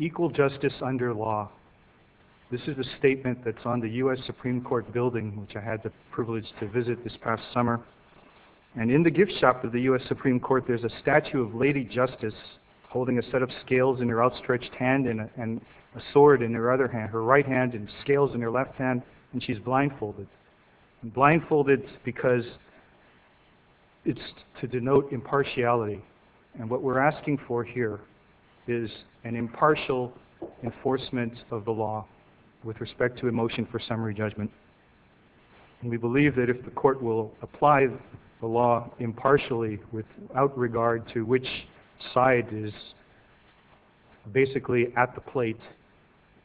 Equal justice under law. This is a statement that's on the U.S. Supreme Court building, which I had the privilege to visit this past summer. And in the gift shop of the U.S. Supreme Court, there's a statue of Lady Justice holding a set of scales in her outstretched hand and a sword in her right hand and scales in her left hand, and she's blindfolded. Blindfolded because it's to denote impartiality. And what we're asking for here is an impartial enforcement of the law with respect to a motion for summary judgment. We believe that if the court will apply the law impartially without regard to which side is basically at the plate,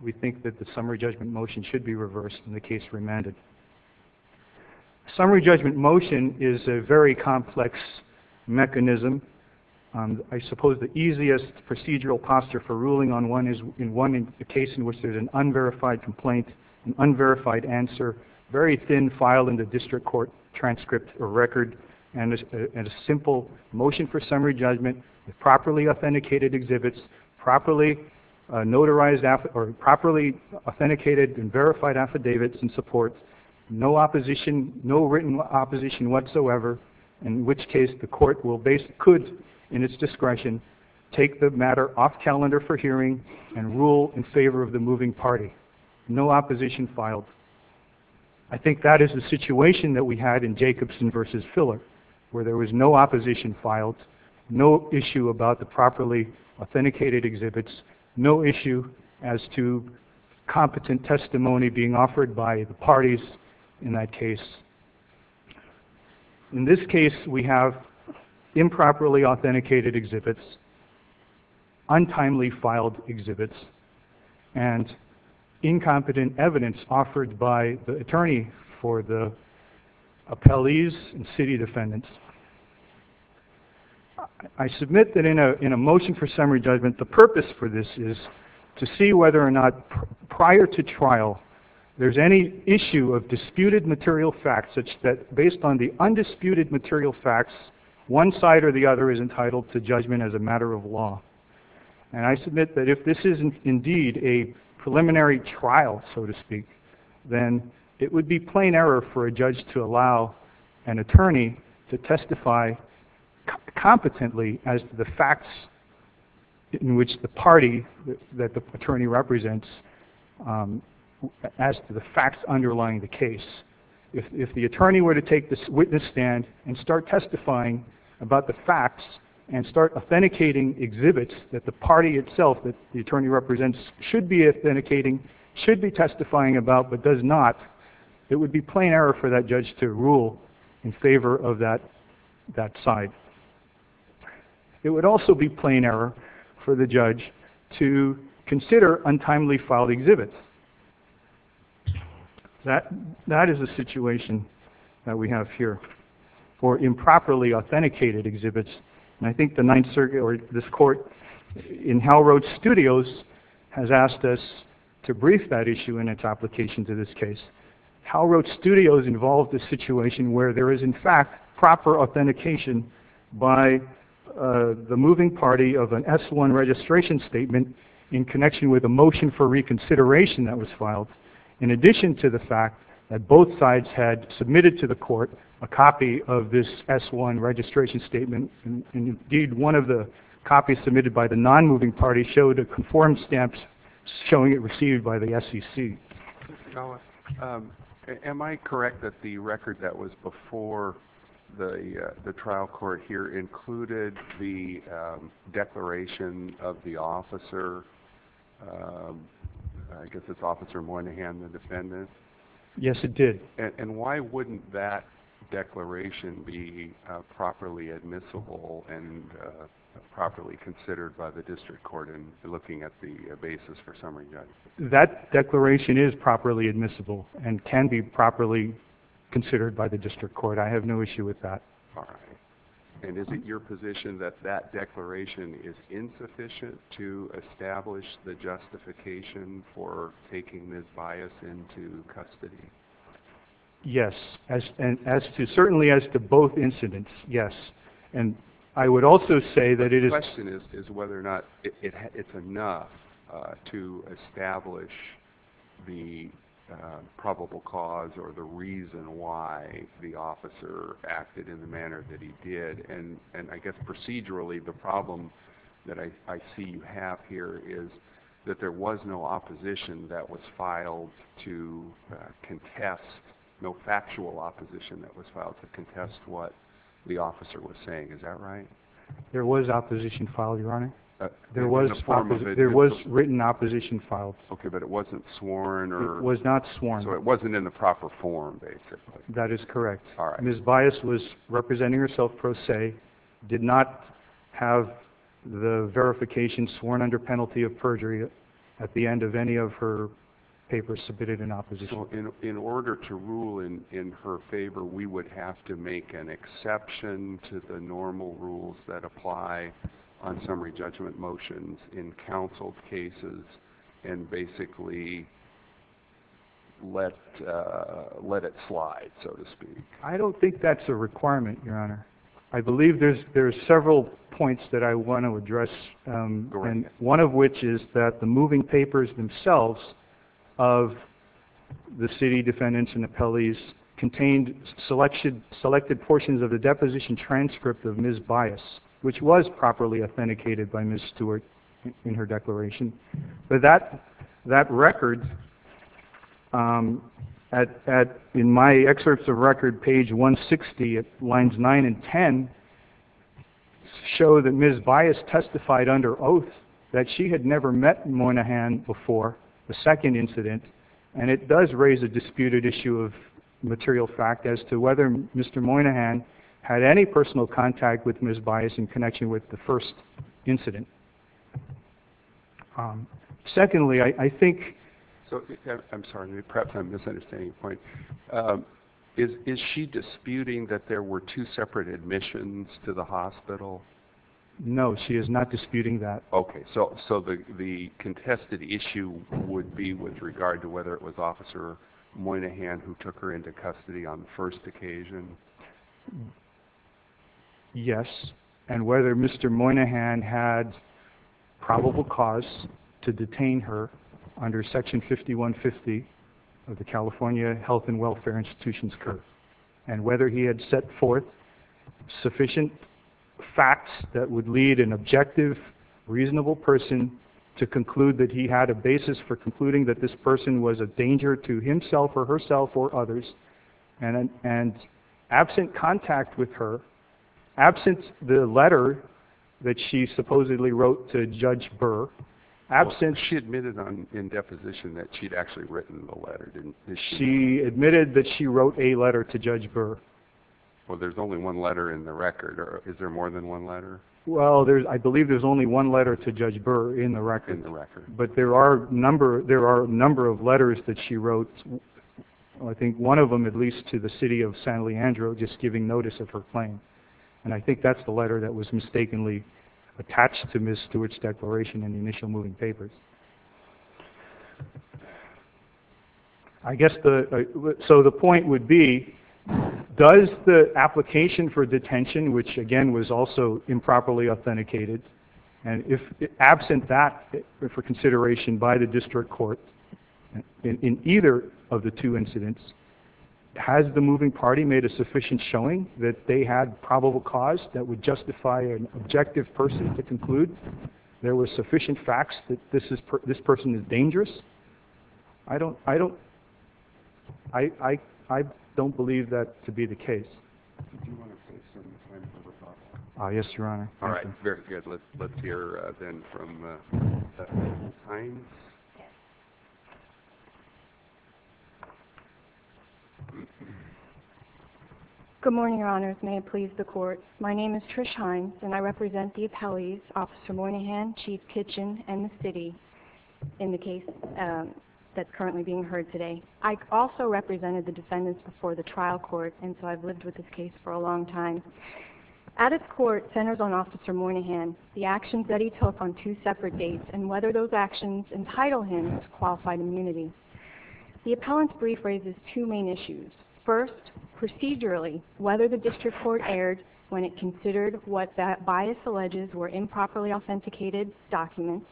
we think that the summary judgment motion should be reversed in the case remanded. Summary judgment motion is a very complex mechanism. I suppose the easiest procedural posture for ruling on one is in one case in which there's an unverified complaint, an unverified answer, very thin file in the district court transcript or record, and a simple motion for summary judgment with properly authenticated exhibits, properly notarized or properly authenticated and verified affidavits and supports, no opposition, no written opposition whatsoever, in which case the court will base, could in its discretion, take the matter off calendar for I think that is the situation that we had in Jacobson versus Filler, where there was no opposition filed, no issue about the properly authenticated exhibits, no issue as to competent testimony being offered by the parties in that case. In this case, we have improperly authenticated exhibits, untimely filed exhibits, and incompetent evidence offered by the attorney for the appellees and city defendants. I submit that in a motion for summary judgment, the purpose for this is to see whether or not prior to trial there's any issue of disputed material facts such that based on the undisputed material facts, one side or the other is entitled to judgment as a matter of law. And I submit that if this isn't indeed a preliminary trial, so to speak, then it would be plain error for a judge to allow an attorney to testify competently as to the facts in which the party that the attorney represents, as to the facts underlying the case. If the attorney were to take the witness stand and start testifying about the facts and start authenticating exhibits that the party itself that the attorney represents should be authenticating, should be testifying about, but does not, it would be plain error for that judge to rule in favor of that side. It would also be plain error for the judge to consider untimely filed exhibits. That is a situation that we have here for improperly authenticated exhibits. And I think the Ninth Circuit or this court in Howe Road Studios has asked us to brief that issue in its application to this case. Howe Road Studios involved this situation where there is in fact proper authentication by the moving party of an S-1 registration statement in connection with a motion for reconsideration that was filed in addition to the fact that both sides had submitted to the court a copy of this S-1 registration statement. And indeed one of the copies submitted by the non-moving party showed a conformed stamp showing it received by the SEC. Mr. Galla, am I correct that the record that was before the trial court here included the declaration of the officer, I guess it's Officer Moynihan, the defendant? Yes, it did. And why wouldn't that declaration be properly admissible and properly considered by the district court in looking at the basis for summary judgment? That declaration is properly admissible and can be properly considered by the district court. I have no issue with that. All right. And is it your position that that declaration is insufficient to establish the justification for taking this bias into custody? Yes, and as to certainly as to both incidents, yes. And I would also say that it is... The question is whether or not it's enough to establish the probable cause or the reason why the officer acted in the manner that he did. And I guess procedurally the problem that I see you have here is that there was no opposition that was filed to contest, no factual opposition that was filed to contest what the officer was saying. Is that right? There was opposition filed, Your Honor. There was written opposition filed. Okay, but it wasn't sworn or... It was not sworn. So it wasn't in the proper form, basically. That is correct. All right. Ms. Bias was representing herself pro se, did not have the verification sworn under penalty of perjury at the end of any of her papers submitted in opposition. In order to rule in her favor, we would have to make an exception to the normal rules that let it slide, so to speak. I don't think that's a requirement, Your Honor. I believe there's several points that I want to address, one of which is that the moving papers themselves of the city defendants and appellees contained selected portions of the deposition transcript of Ms. Bias, which was in my excerpts of record, page 160, lines 9 and 10, show that Ms. Bias testified under oath that she had never met Moynihan before the second incident, and it does raise a disputed issue of material fact as to whether Mr. Moynihan had any personal contact with Ms. Bias in connection with the first incident. Secondly, I think... I'm sorry, perhaps I'm misunderstanding a point. Is she disputing that there were two separate admissions to the hospital? No, she is not disputing that. Okay, so the contested issue would be with regard to whether it was Officer Moynihan who took her into custody on the first occasion? Yes, and whether Mr. Moynihan had probable cause to detain her under Section 5150 of the California Health and Welfare Institution's curve, and whether he had set forth sufficient facts that would lead an objective, reasonable person to conclude that he had a basis for concluding that this person was a danger to himself or herself or others, and absent contact with her, absent the letter that she supposedly wrote to Judge Burr, absent... She admitted in deposition that she'd actually written the letter, didn't she? She admitted that she wrote a letter to Judge Burr. Well, there's only one letter in the record. Is there more than one letter? Well, I believe there's only one letter to Judge Burr in the record. In the record. But there are a number of letters that she wrote, I think one of them at least, to the city of San Leandro, just giving notice of her claim. And I think that's the letter that was mistakenly attached to Ms. Stewart's declaration in the initial moving papers. I guess the... So the point would be, does the application for detention, which again was also improperly authenticated, and absent that for consideration by the district court in either of the two incidents, has the moving party made a sufficient showing that they had probable cause that would justify an objective person to conclude there were sufficient facts that this person is dangerous? I don't... I don't believe that to be the case. Did you want to take some time for rebuttal? Yes, Your Honor. All right. Very good. Let's hear then from Ms. Hines. Good morning, Your Honors. May it please the Court. My name is Trish Hines, and I represent the appellees, Officer Moynihan, Chief Kitchen, and the city, in the case that's currently being heard today. I also represented the defendants before the trial court, and so I've lived with this case for a long time. At its court, centered on Officer Moynihan, the actions that he took on two separate dates, and whether those actions entitle him to qualified immunity. The appellant's brief raises two main issues. First, procedurally, whether the district court erred when it considered what that bias alleges were improperly authenticated documents,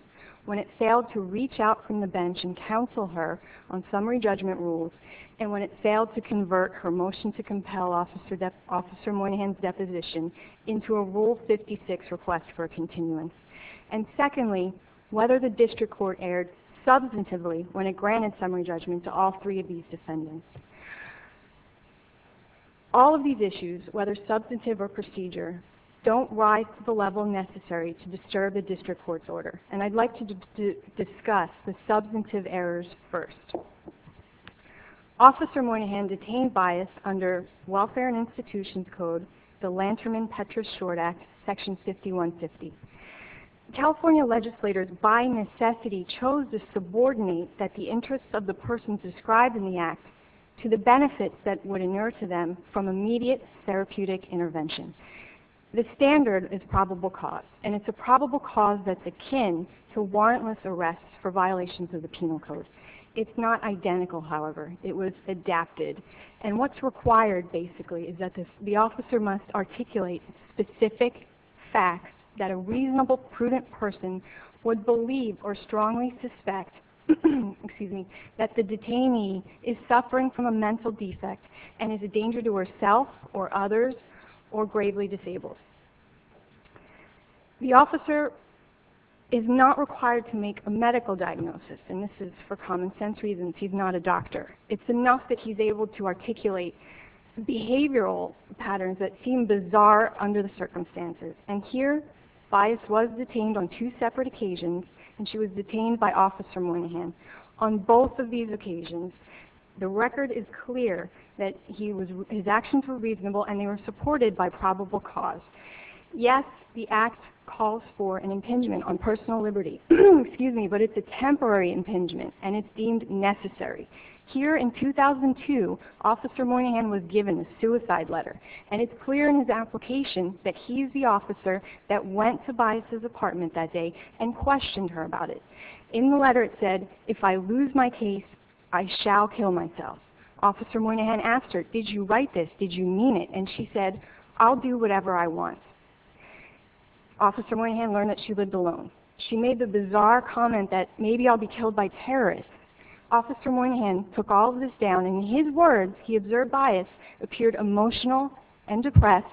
when it failed to reach out from the bench and counsel her on summary judgment rules, and when it failed to convert her motion to compel Officer Moynihan's deposition into a Rule 56 request for a continuance. And secondly, whether the district court erred substantively when it granted summary judgment to all three of these defendants. All of these issues, whether substantive or procedure, don't rise to the level necessary to disturb a district court's order, and I'd like to discuss the substantive errors first. Officer Moynihan detained bias under Welfare and Institutions Code, the Lanterman-Petras Short Act, Section 5150. California legislators, by necessity, chose to subordinate that the interests of the person described in the Act to the benefits that would inure to them from immediate therapeutic intervention. The standard is probable cause, and it's a probable cause that's akin to warrantless arrests for violations of the Penal Code. It's not identical, however. It was adapted. And what's required, basically, is that the officer must articulate specific facts that a reasonable, prudent person would believe or strongly suspect that the detainee is suffering from a mental defect and is a danger to herself or others or gravely disabled. The officer is not required to make a medical diagnosis, and this is for common sense reasons. He's not a doctor. It's enough that he's able to articulate behavioral patterns that seem bizarre under the circumstances. And here, bias was detained on two separate occasions, and she was detained by Officer Moynihan. On both of these occasions, the record is clear that his actions were reasonable and they were supported by probable cause. Yes, the Act calls for an impingement on personal liberty. Excuse me, but it's a temporary impingement, and it's deemed necessary. Here in 2002, Officer Moynihan was given a suicide letter, and it's clear in his application that he's the officer that went to Bias's apartment that day and questioned her about it. In the letter, it said, if I lose my case, I shall kill myself. Officer Moynihan asked her, did you write this? Did you mean it? And she said, I'll do whatever I want. Officer Moynihan learned that she lived alone. She made the bizarre comment that maybe I'll be killed by terrorists. Officer Moynihan took all of this down, and in his words, he observed Bias appeared emotional and depressed,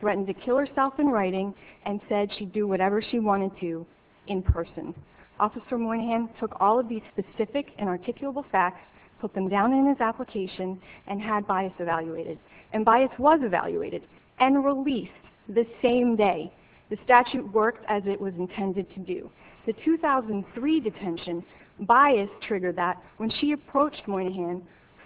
threatened to kill herself in writing, and said she'd do whatever she wanted to in person. Officer Moynihan took all of these specific and articulable facts, put them down in his application, and had Bias evaluated. And Bias was evaluated and released the same day. The statute worked as it was intended to do. The 2003 detention, Bias triggered that when she approached Moynihan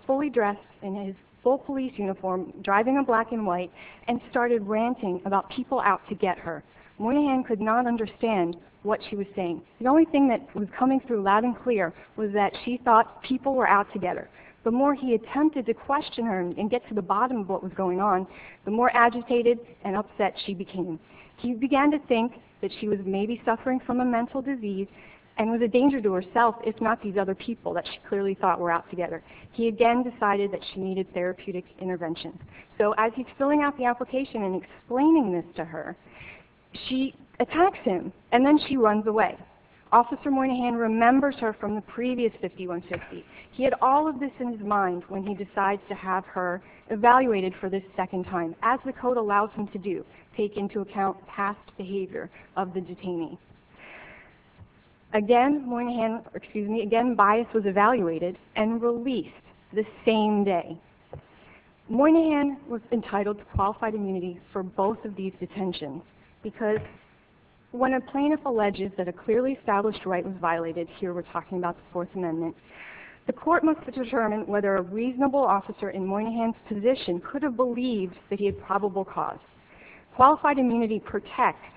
fully dressed in his full police uniform, driving a black and white, and started ranting about people out to get her. Moynihan could not understand what she was saying. The only thing that was coming through loud and clear was that she thought people were out to get her. The more he attempted to question her and get to the bottom of what was going on, the more agitated and upset she became. He began to think that she was maybe suffering from a mental disease and was a danger to herself, if not these other people that she clearly thought were out to get her. He again decided that she needed therapeutic intervention. So as he's filling out the application and explaining this to her, she attacks him, and then she runs away. Officer Moynihan remembers her from the previous 5150. He had all of this in his mind when he decides to have her evaluated for the second time, as the code allows him to do, take into account past behavior of the detainee. Again, Bias was evaluated and released the same day. Moynihan was entitled to qualified immunity for both of these detentions because when a plaintiff alleges that a clearly established right was violated, here we're talking about the Fourth Amendment, the court must determine whether a reasonable officer in Moynihan's position could have believed that he had probable cause. Qualified immunity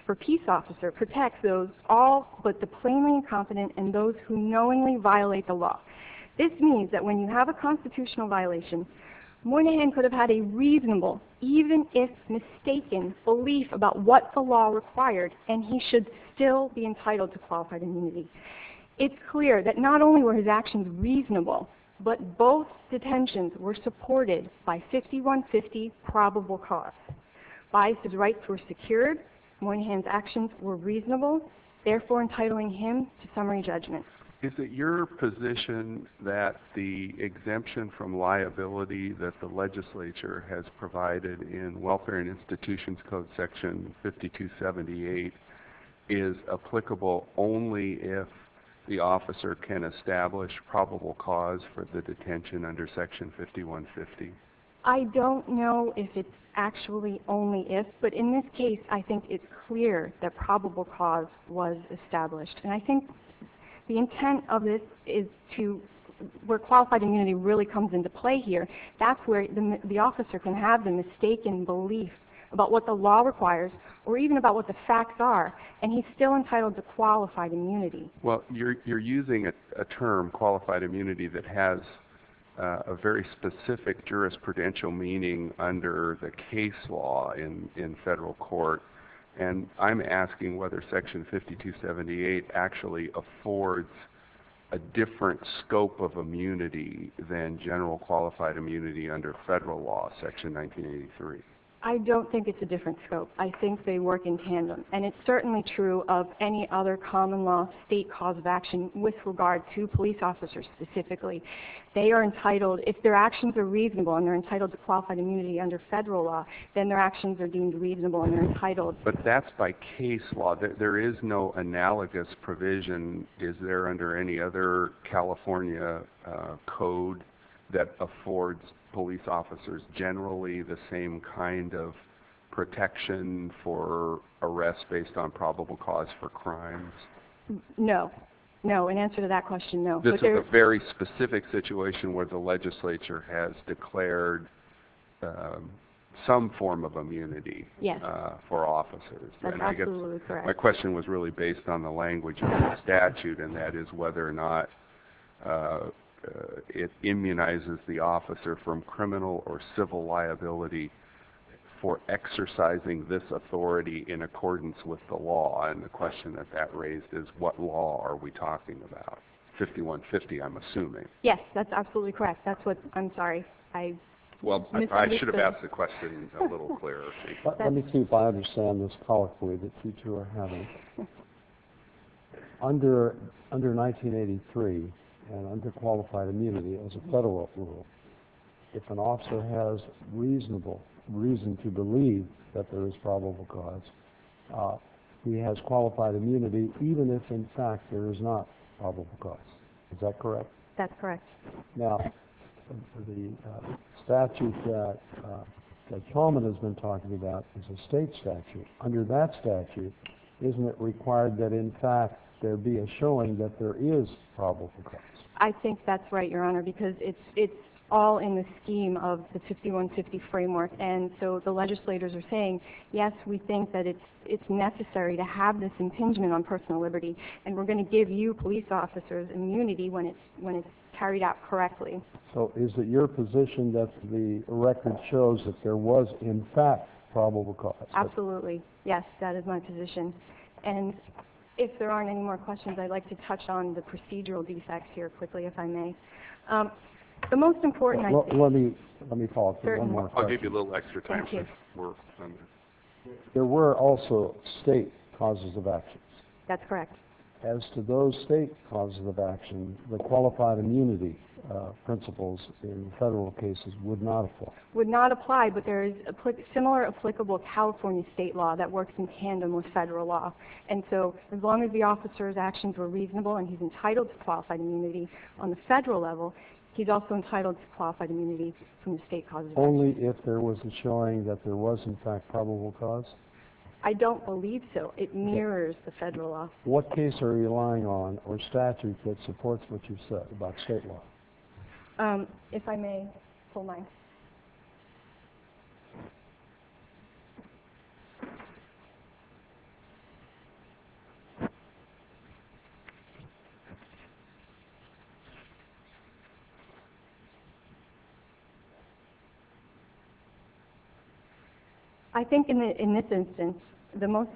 for peace officer protects those all but the plainly incompetent and those who knowingly violate the law. This means that when you have a constitutional violation, Moynihan could have had a reasonable, even if mistaken, belief about what the law required, and he should still be entitled to qualified immunity. It's clear that not only were his actions reasonable, but both detentions were supported by 5150 probable cause. Bias' rights were secured, Moynihan's actions were reasonable, therefore entitling him to summary judgment. Is it your position that the exemption from liability that the legislature has provided in Welfare and Institutions Code section 5278 is applicable only if the officer can establish probable cause for the detention under section 5150? I don't know if it's actually only if, but in this case, I think it's clear that probable cause was established. And I think the intent of this is to, where qualified immunity really comes into play here, that's where the officer can have the mistaken belief about what the law requires, or even about what the facts are, and he's still entitled to qualified immunity. Well, you're using a term, qualified immunity, that has a very specific jurisprudential meaning under the case law in federal court, and I'm asking whether section 5278 actually affords a different scope of immunity than general qualified immunity under federal law, section 1983. I don't think it's a different scope. I think they work in tandem. And it's certainly true of any other common law state cause of action with regard to police officers specifically. They are entitled, if their actions are reasonable and they're entitled to qualified immunity under federal law, then their actions are deemed reasonable and they're entitled. But that's by case law. There is no analogous provision. Is there under any other California code that affords police officers generally the same kind of protection for arrest based on probable cause for crimes? No. No. In answer to that question, no. This is a very specific situation where the legislature has declared some form of immunity for officers. That's absolutely correct. My question was really based on the language of the statute, and that is whether or not it immunizes the officer from criminal or civil liability for exercising this authority in accordance with the law. And the question that that raised is what law are we talking about? 5150, I'm assuming. Yes, that's absolutely correct. I'm sorry. I should have asked the question a little clearer. Let me see if I understand this colloquially that you two are having. Under 1983 and under qualified immunity as a federal rule, if an officer has reasonable reason to believe that there is probable cause, he has qualified immunity even if, in fact, there is not probable cause. Is that correct? That's correct. Now, the statute that Coleman has been talking about is a state statute. Under that statute, isn't it required that, in fact, there be a showing that there is probable cause? I think that's right, Your Honor, because it's all in the scheme of the 5150 framework. And so the legislators are saying, yes, we think that it's necessary to have this impingement on personal liberty, and we're going to give you police officers immunity when it's carried out correctly. So is it your position that the record shows that there was, in fact, probable cause? Absolutely. Yes, that is my position. And if there aren't any more questions, I'd like to touch on the procedural defects here quickly, if I may. The most important I think is certain. I'll give you a little extra time. There were also state causes of actions. That's correct. As to those state causes of action, the qualified immunity principles in federal cases would not apply. But there is a similar applicable California state law that works in tandem with federal law. And so as long as the officer's actions were reasonable and he's entitled to qualified immunity on the federal level, he's also entitled to qualified immunity from the state causes of action. Only if there was a showing that there was, in fact, probable cause? I don't believe so. It mirrors the federal law. What case are you relying on or statute that supports what you said about state law? If I may, full line. I think in this instance, the most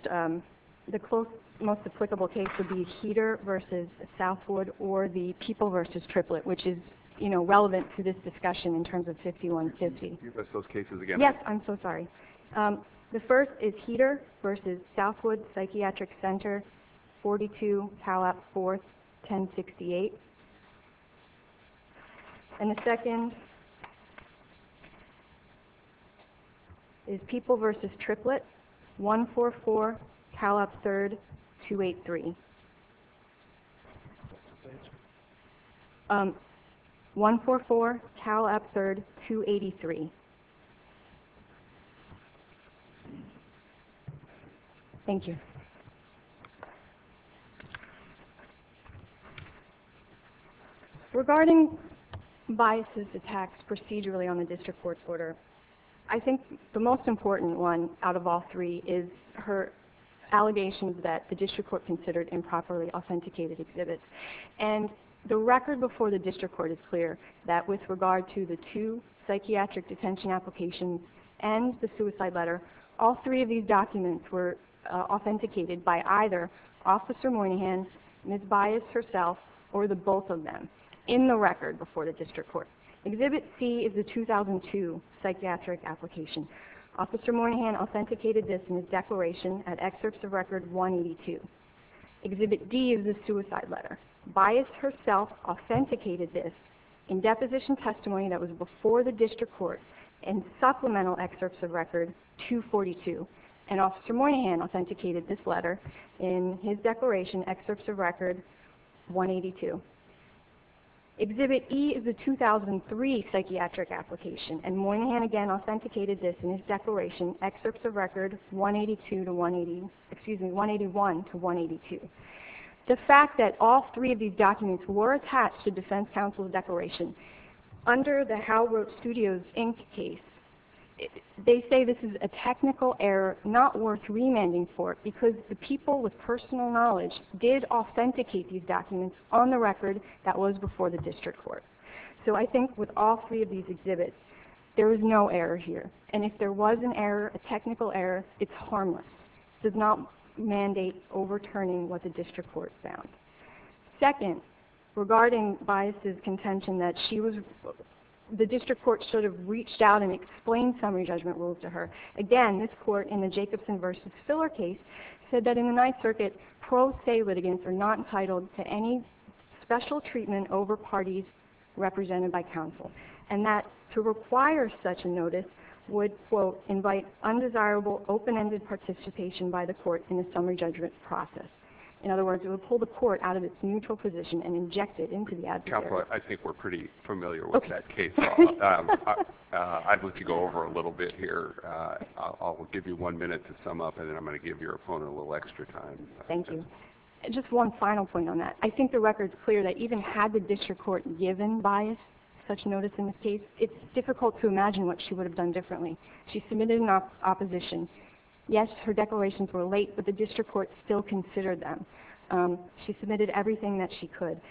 applicable case would be Heater v. Southwood or the People v. Triplet, which is relevant to this discussion in terms of 5150. Can you repeat those cases again? Yes, I'm so sorry. The first is Heater v. Southwood Psychiatric Center, 42 Cal Up 4th, 1068. And the second is People v. Triplet, 144 Cal Up 3rd, 283. 144 Cal Up 3rd, 283. Thank you. Regarding biases attacked procedurally on the district court's order, I think the most important one out of all three is her allegations that the district court considered improperly authenticated exhibits. And the record before the district court is clear that with regard to the two psychiatric detention applications and the suicide letter, all three of these documents were authenticated by either Officer Moynihan, Ms. Bias herself, or the both of them in the record before the district court. Exhibit C is the 2002 psychiatric application. Officer Moynihan authenticated this in his declaration at excerpts of record 182. Exhibit D is the suicide letter. Bias herself authenticated this in deposition testimony that was before the district court in supplemental excerpts of record 242. And Officer Moynihan authenticated this letter in his declaration, excerpts of record 182. Exhibit E is the 2003 psychiatric application. And Moynihan again authenticated this in his declaration, excerpts of record 181 to 182. The fact that all three of these documents were attached to defense counsel's declaration, under the Hal Roach Studios Inc. case, they say this is a technical error not worth remanding for because the people with personal knowledge did authenticate these documents on the record that was before the district court. So I think with all three of these exhibits, there is no error here. And if there was an error, a technical error, it's harmless. It does not mandate overturning what the district court found. Second, regarding Bias' contention that the district court should have reached out and explained summary judgment rules to her, again, this court in the Jacobson v. Filler case said that in the Ninth Circuit, pro se litigants are not entitled to any special treatment over parties represented by counsel. And that to require such a notice would, quote, invite undesirable open-ended participation by the court in the summary judgment process. In other words, it would pull the court out of its neutral position and inject it into the adversaries. Counselor, I think we're pretty familiar with that case. I'd like to go over a little bit here. I'll give you one minute to sum up, and then I'm going to give your opponent a little extra time. Thank you. Just one final point on that. I think the record's clear that even had the district court given Bias such notice in this case, it's difficult to imagine what she would have done differently. She submitted an opposition. Yes, her declarations were late, but the district court still considered them. She submitted everything that she could.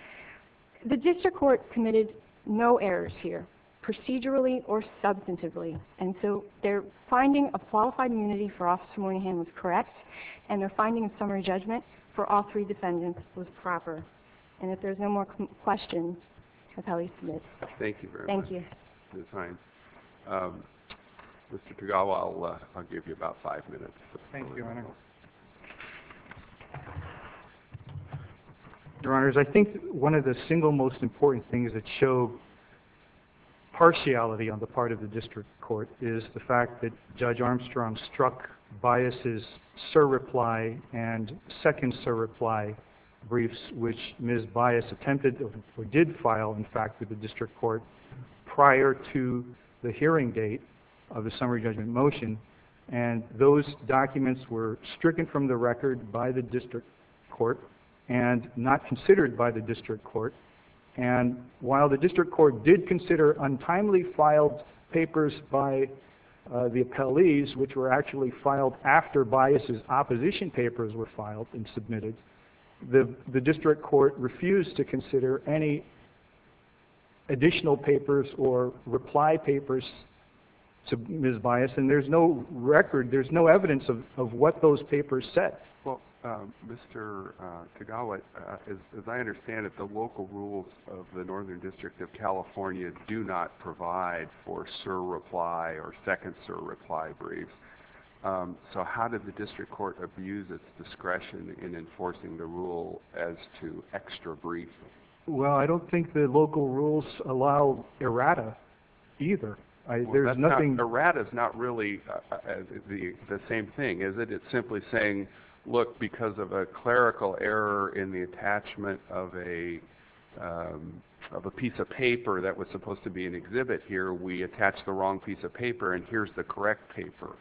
The district court committed no errors here, procedurally or substantively. And so their finding of qualified immunity for Officer Moynihan was correct, and their finding of summary judgment for all three defendants was proper. And if there's no more questions, I'll call you to admit. Thank you very much. Thank you. Mr. Tagawa, I'll give you about five minutes. Thank you, Your Honor. Your Honors, I think one of the single most important things that show partiality on the part of the district court is the fact that Judge Armstrong struck Bias' surreply and second surreply briefs, which Ms. Bias attempted or did file, in fact, with the district court prior to the hearing date of the summary judgment motion. And those documents were stricken from the record by the district court and not considered by the district court. And while the district court did consider untimely filed papers by the appellees, which were actually filed after Bias' opposition papers were filed and submitted, the district court refused to consider any additional papers or reply papers to Ms. Bias. And there's no record, there's no evidence of what those papers said. Well, Mr. Tagawa, as I understand it, the local rules of the Northern District of California do not provide for surreply or second surreply briefs. So how did the district court abuse its discretion in enforcing the rule as to extra briefs? Well, I don't think the local rules allow errata either. Errata is not really the same thing, is it? It's simply saying, look, because of a clerical error in the attachment of a piece of paper that was supposed to be an exhibit here, we attached the wrong piece of paper and here's the correct paper.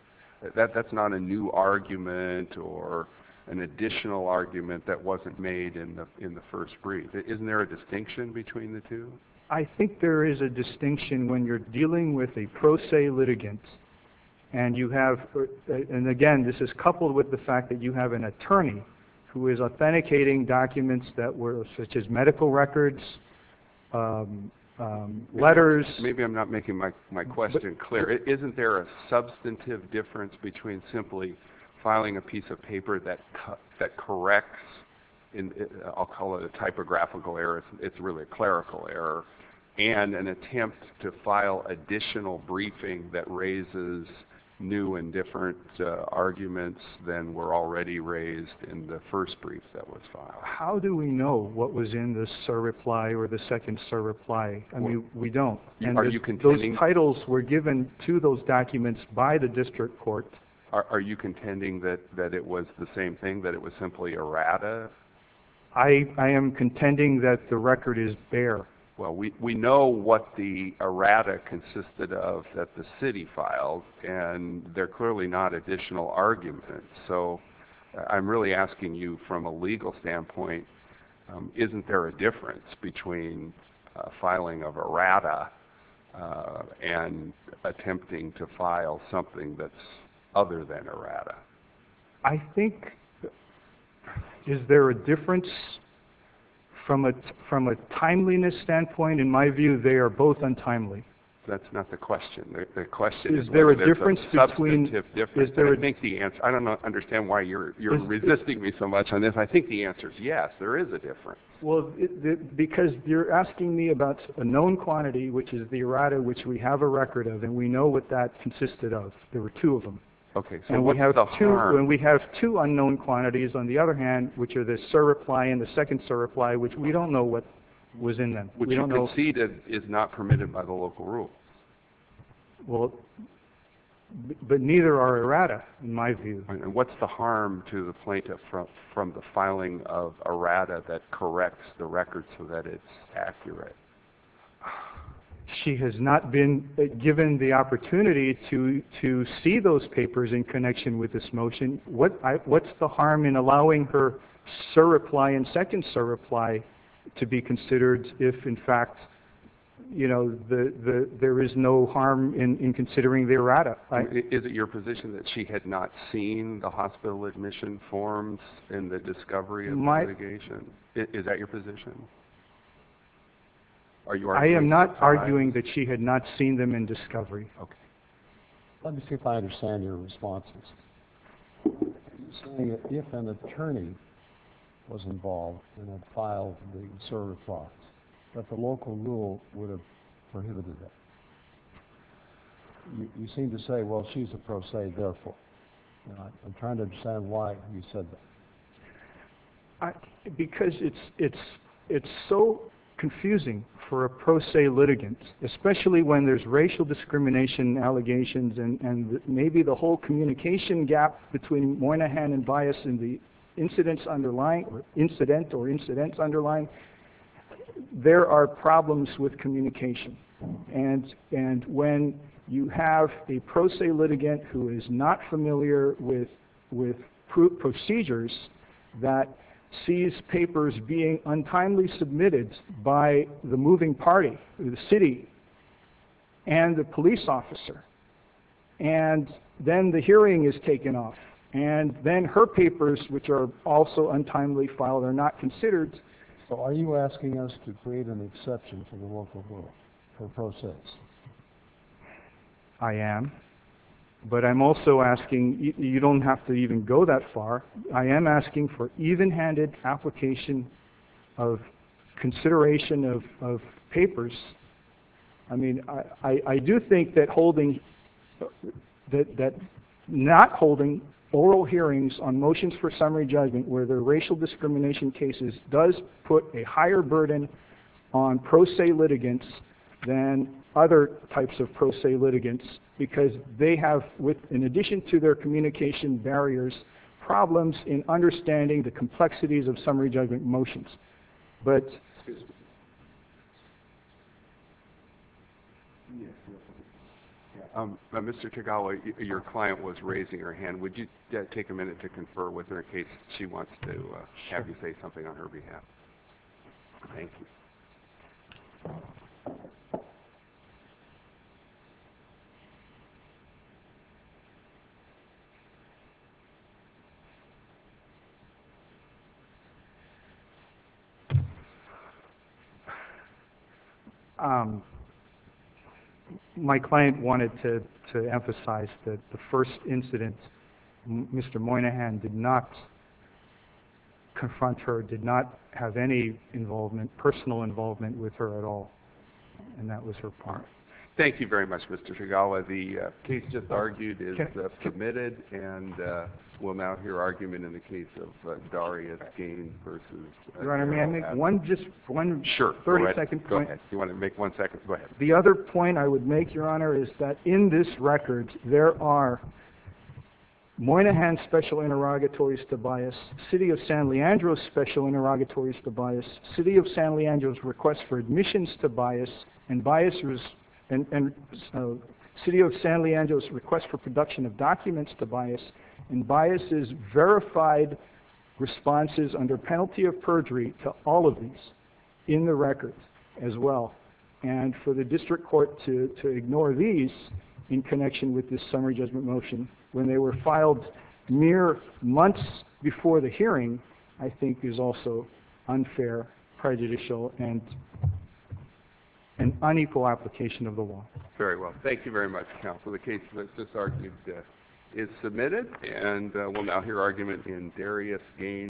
That's not a new argument or an additional argument that wasn't made in the first brief. Isn't there a distinction between the two? I think there is a distinction when you're dealing with a pro se litigant and, again, this is coupled with the fact that you have an attorney who is authenticating documents such as medical records, letters. Maybe I'm not making my question clear. Isn't there a substantive difference between simply filing a piece of paper that corrects, I'll call it a typographical error, it's really a clerical error, and an attempt to file additional briefing that raises new and different arguments than were already raised in the first brief that was filed? How do we know what was in the surreply or the second surreply? I mean, we don't. Are you contending? Those titles were given to those documents by the district court. Are you contending that it was the same thing, that it was simply errata? I am contending that the record is bare. Well, we know what the errata consisted of that the city filed, and they're clearly not additional arguments. So I'm really asking you from a legal standpoint, isn't there a difference between filing of errata and attempting to file something that's other than errata? I think is there a difference from a timeliness standpoint? In my view, they are both untimely. That's not the question. The question is whether there's a substantive difference. I don't understand why you're resisting me so much on this. And I think the answer is yes, there is a difference. Well, because you're asking me about a known quantity, which is the errata, which we have a record of, and we know what that consisted of. There were two of them. Okay, so what's the harm? And we have two unknown quantities, on the other hand, which are the surreply and the second surreply, which we don't know what was in them. Which you conceded is not permitted by the local rule. Well, but neither are errata, in my view. And what's the harm to the plaintiff from the filing of errata that corrects the record so that it's accurate? She has not been given the opportunity to see those papers in connection with this motion. What's the harm in allowing her surreply and second surreply to be considered if, in fact, you know, there is no harm in considering the errata? Is it your position that she had not seen the hospital admission forms and the discovery and litigation? Is that your position? I am not arguing that she had not seen them in discovery. Okay. Let me see if I understand your responses. You're saying that if an attorney was involved and had filed the surreplies, that the local rule would have prohibited that. You seem to say, well, she's a pro se, therefore. I'm trying to understand why you said that. Because it's so confusing for a pro se litigant, especially when there's racial discrimination allegations and maybe the whole communication gap between Moynihan and Bias in the incident or incidents underlying. There are problems with communication. And when you have a pro se litigant who is not familiar with procedures that sees papers being untimely submitted by the moving party, the city, and the police officer, and then the hearing is taken off, and then her papers, which are also untimely filed, are not considered. So are you asking us to create an exception for the local rule, for pro ses? I am. But I'm also asking, you don't have to even go that far. I am asking for even-handed application of consideration of papers. I do think that not holding oral hearings on motions for summary judgment where there are racial discrimination cases does put a higher burden on pro se litigants than other types of pro se litigants, because they have, in addition to their communication barriers, problems in understanding the complexities of summary judgment motions. Yes. Mr. Tagawa, your client was raising her hand. Would you take a minute to confer with her in case she wants to have you say something on her behalf? Thank you. My client wanted to emphasize that the first incident, Mr. Moynihan did not confront her, did not have any personal involvement with her at all, and that was her part. Thank you very much, Mr. Tagawa. The case just argued is submitted, and we'll mount your argument in the case of Darius Gaines versus- Your Honor, may I make one, just one- Sure. 30-second point. You want to make one second? Go ahead. The other point I would make, Your Honor, is that in this record, there are Moynihan's special interrogatories to bias, City of San Leandro's special interrogatories to bias, City of San Leandro's request for admissions to bias, and City of San Leandro's request for production of documents to bias, and bias's verified responses under penalty of perjury to all of these in the record as well, and for the district court to ignore these in connection with this summary judgment motion when they were filed mere months before the hearing, I think is also unfair, prejudicial, and an unequal application of the law. Very well. Thank you very much, counsel. The case that's just argued is submitted, and we'll now hear argument in Darius Gaines.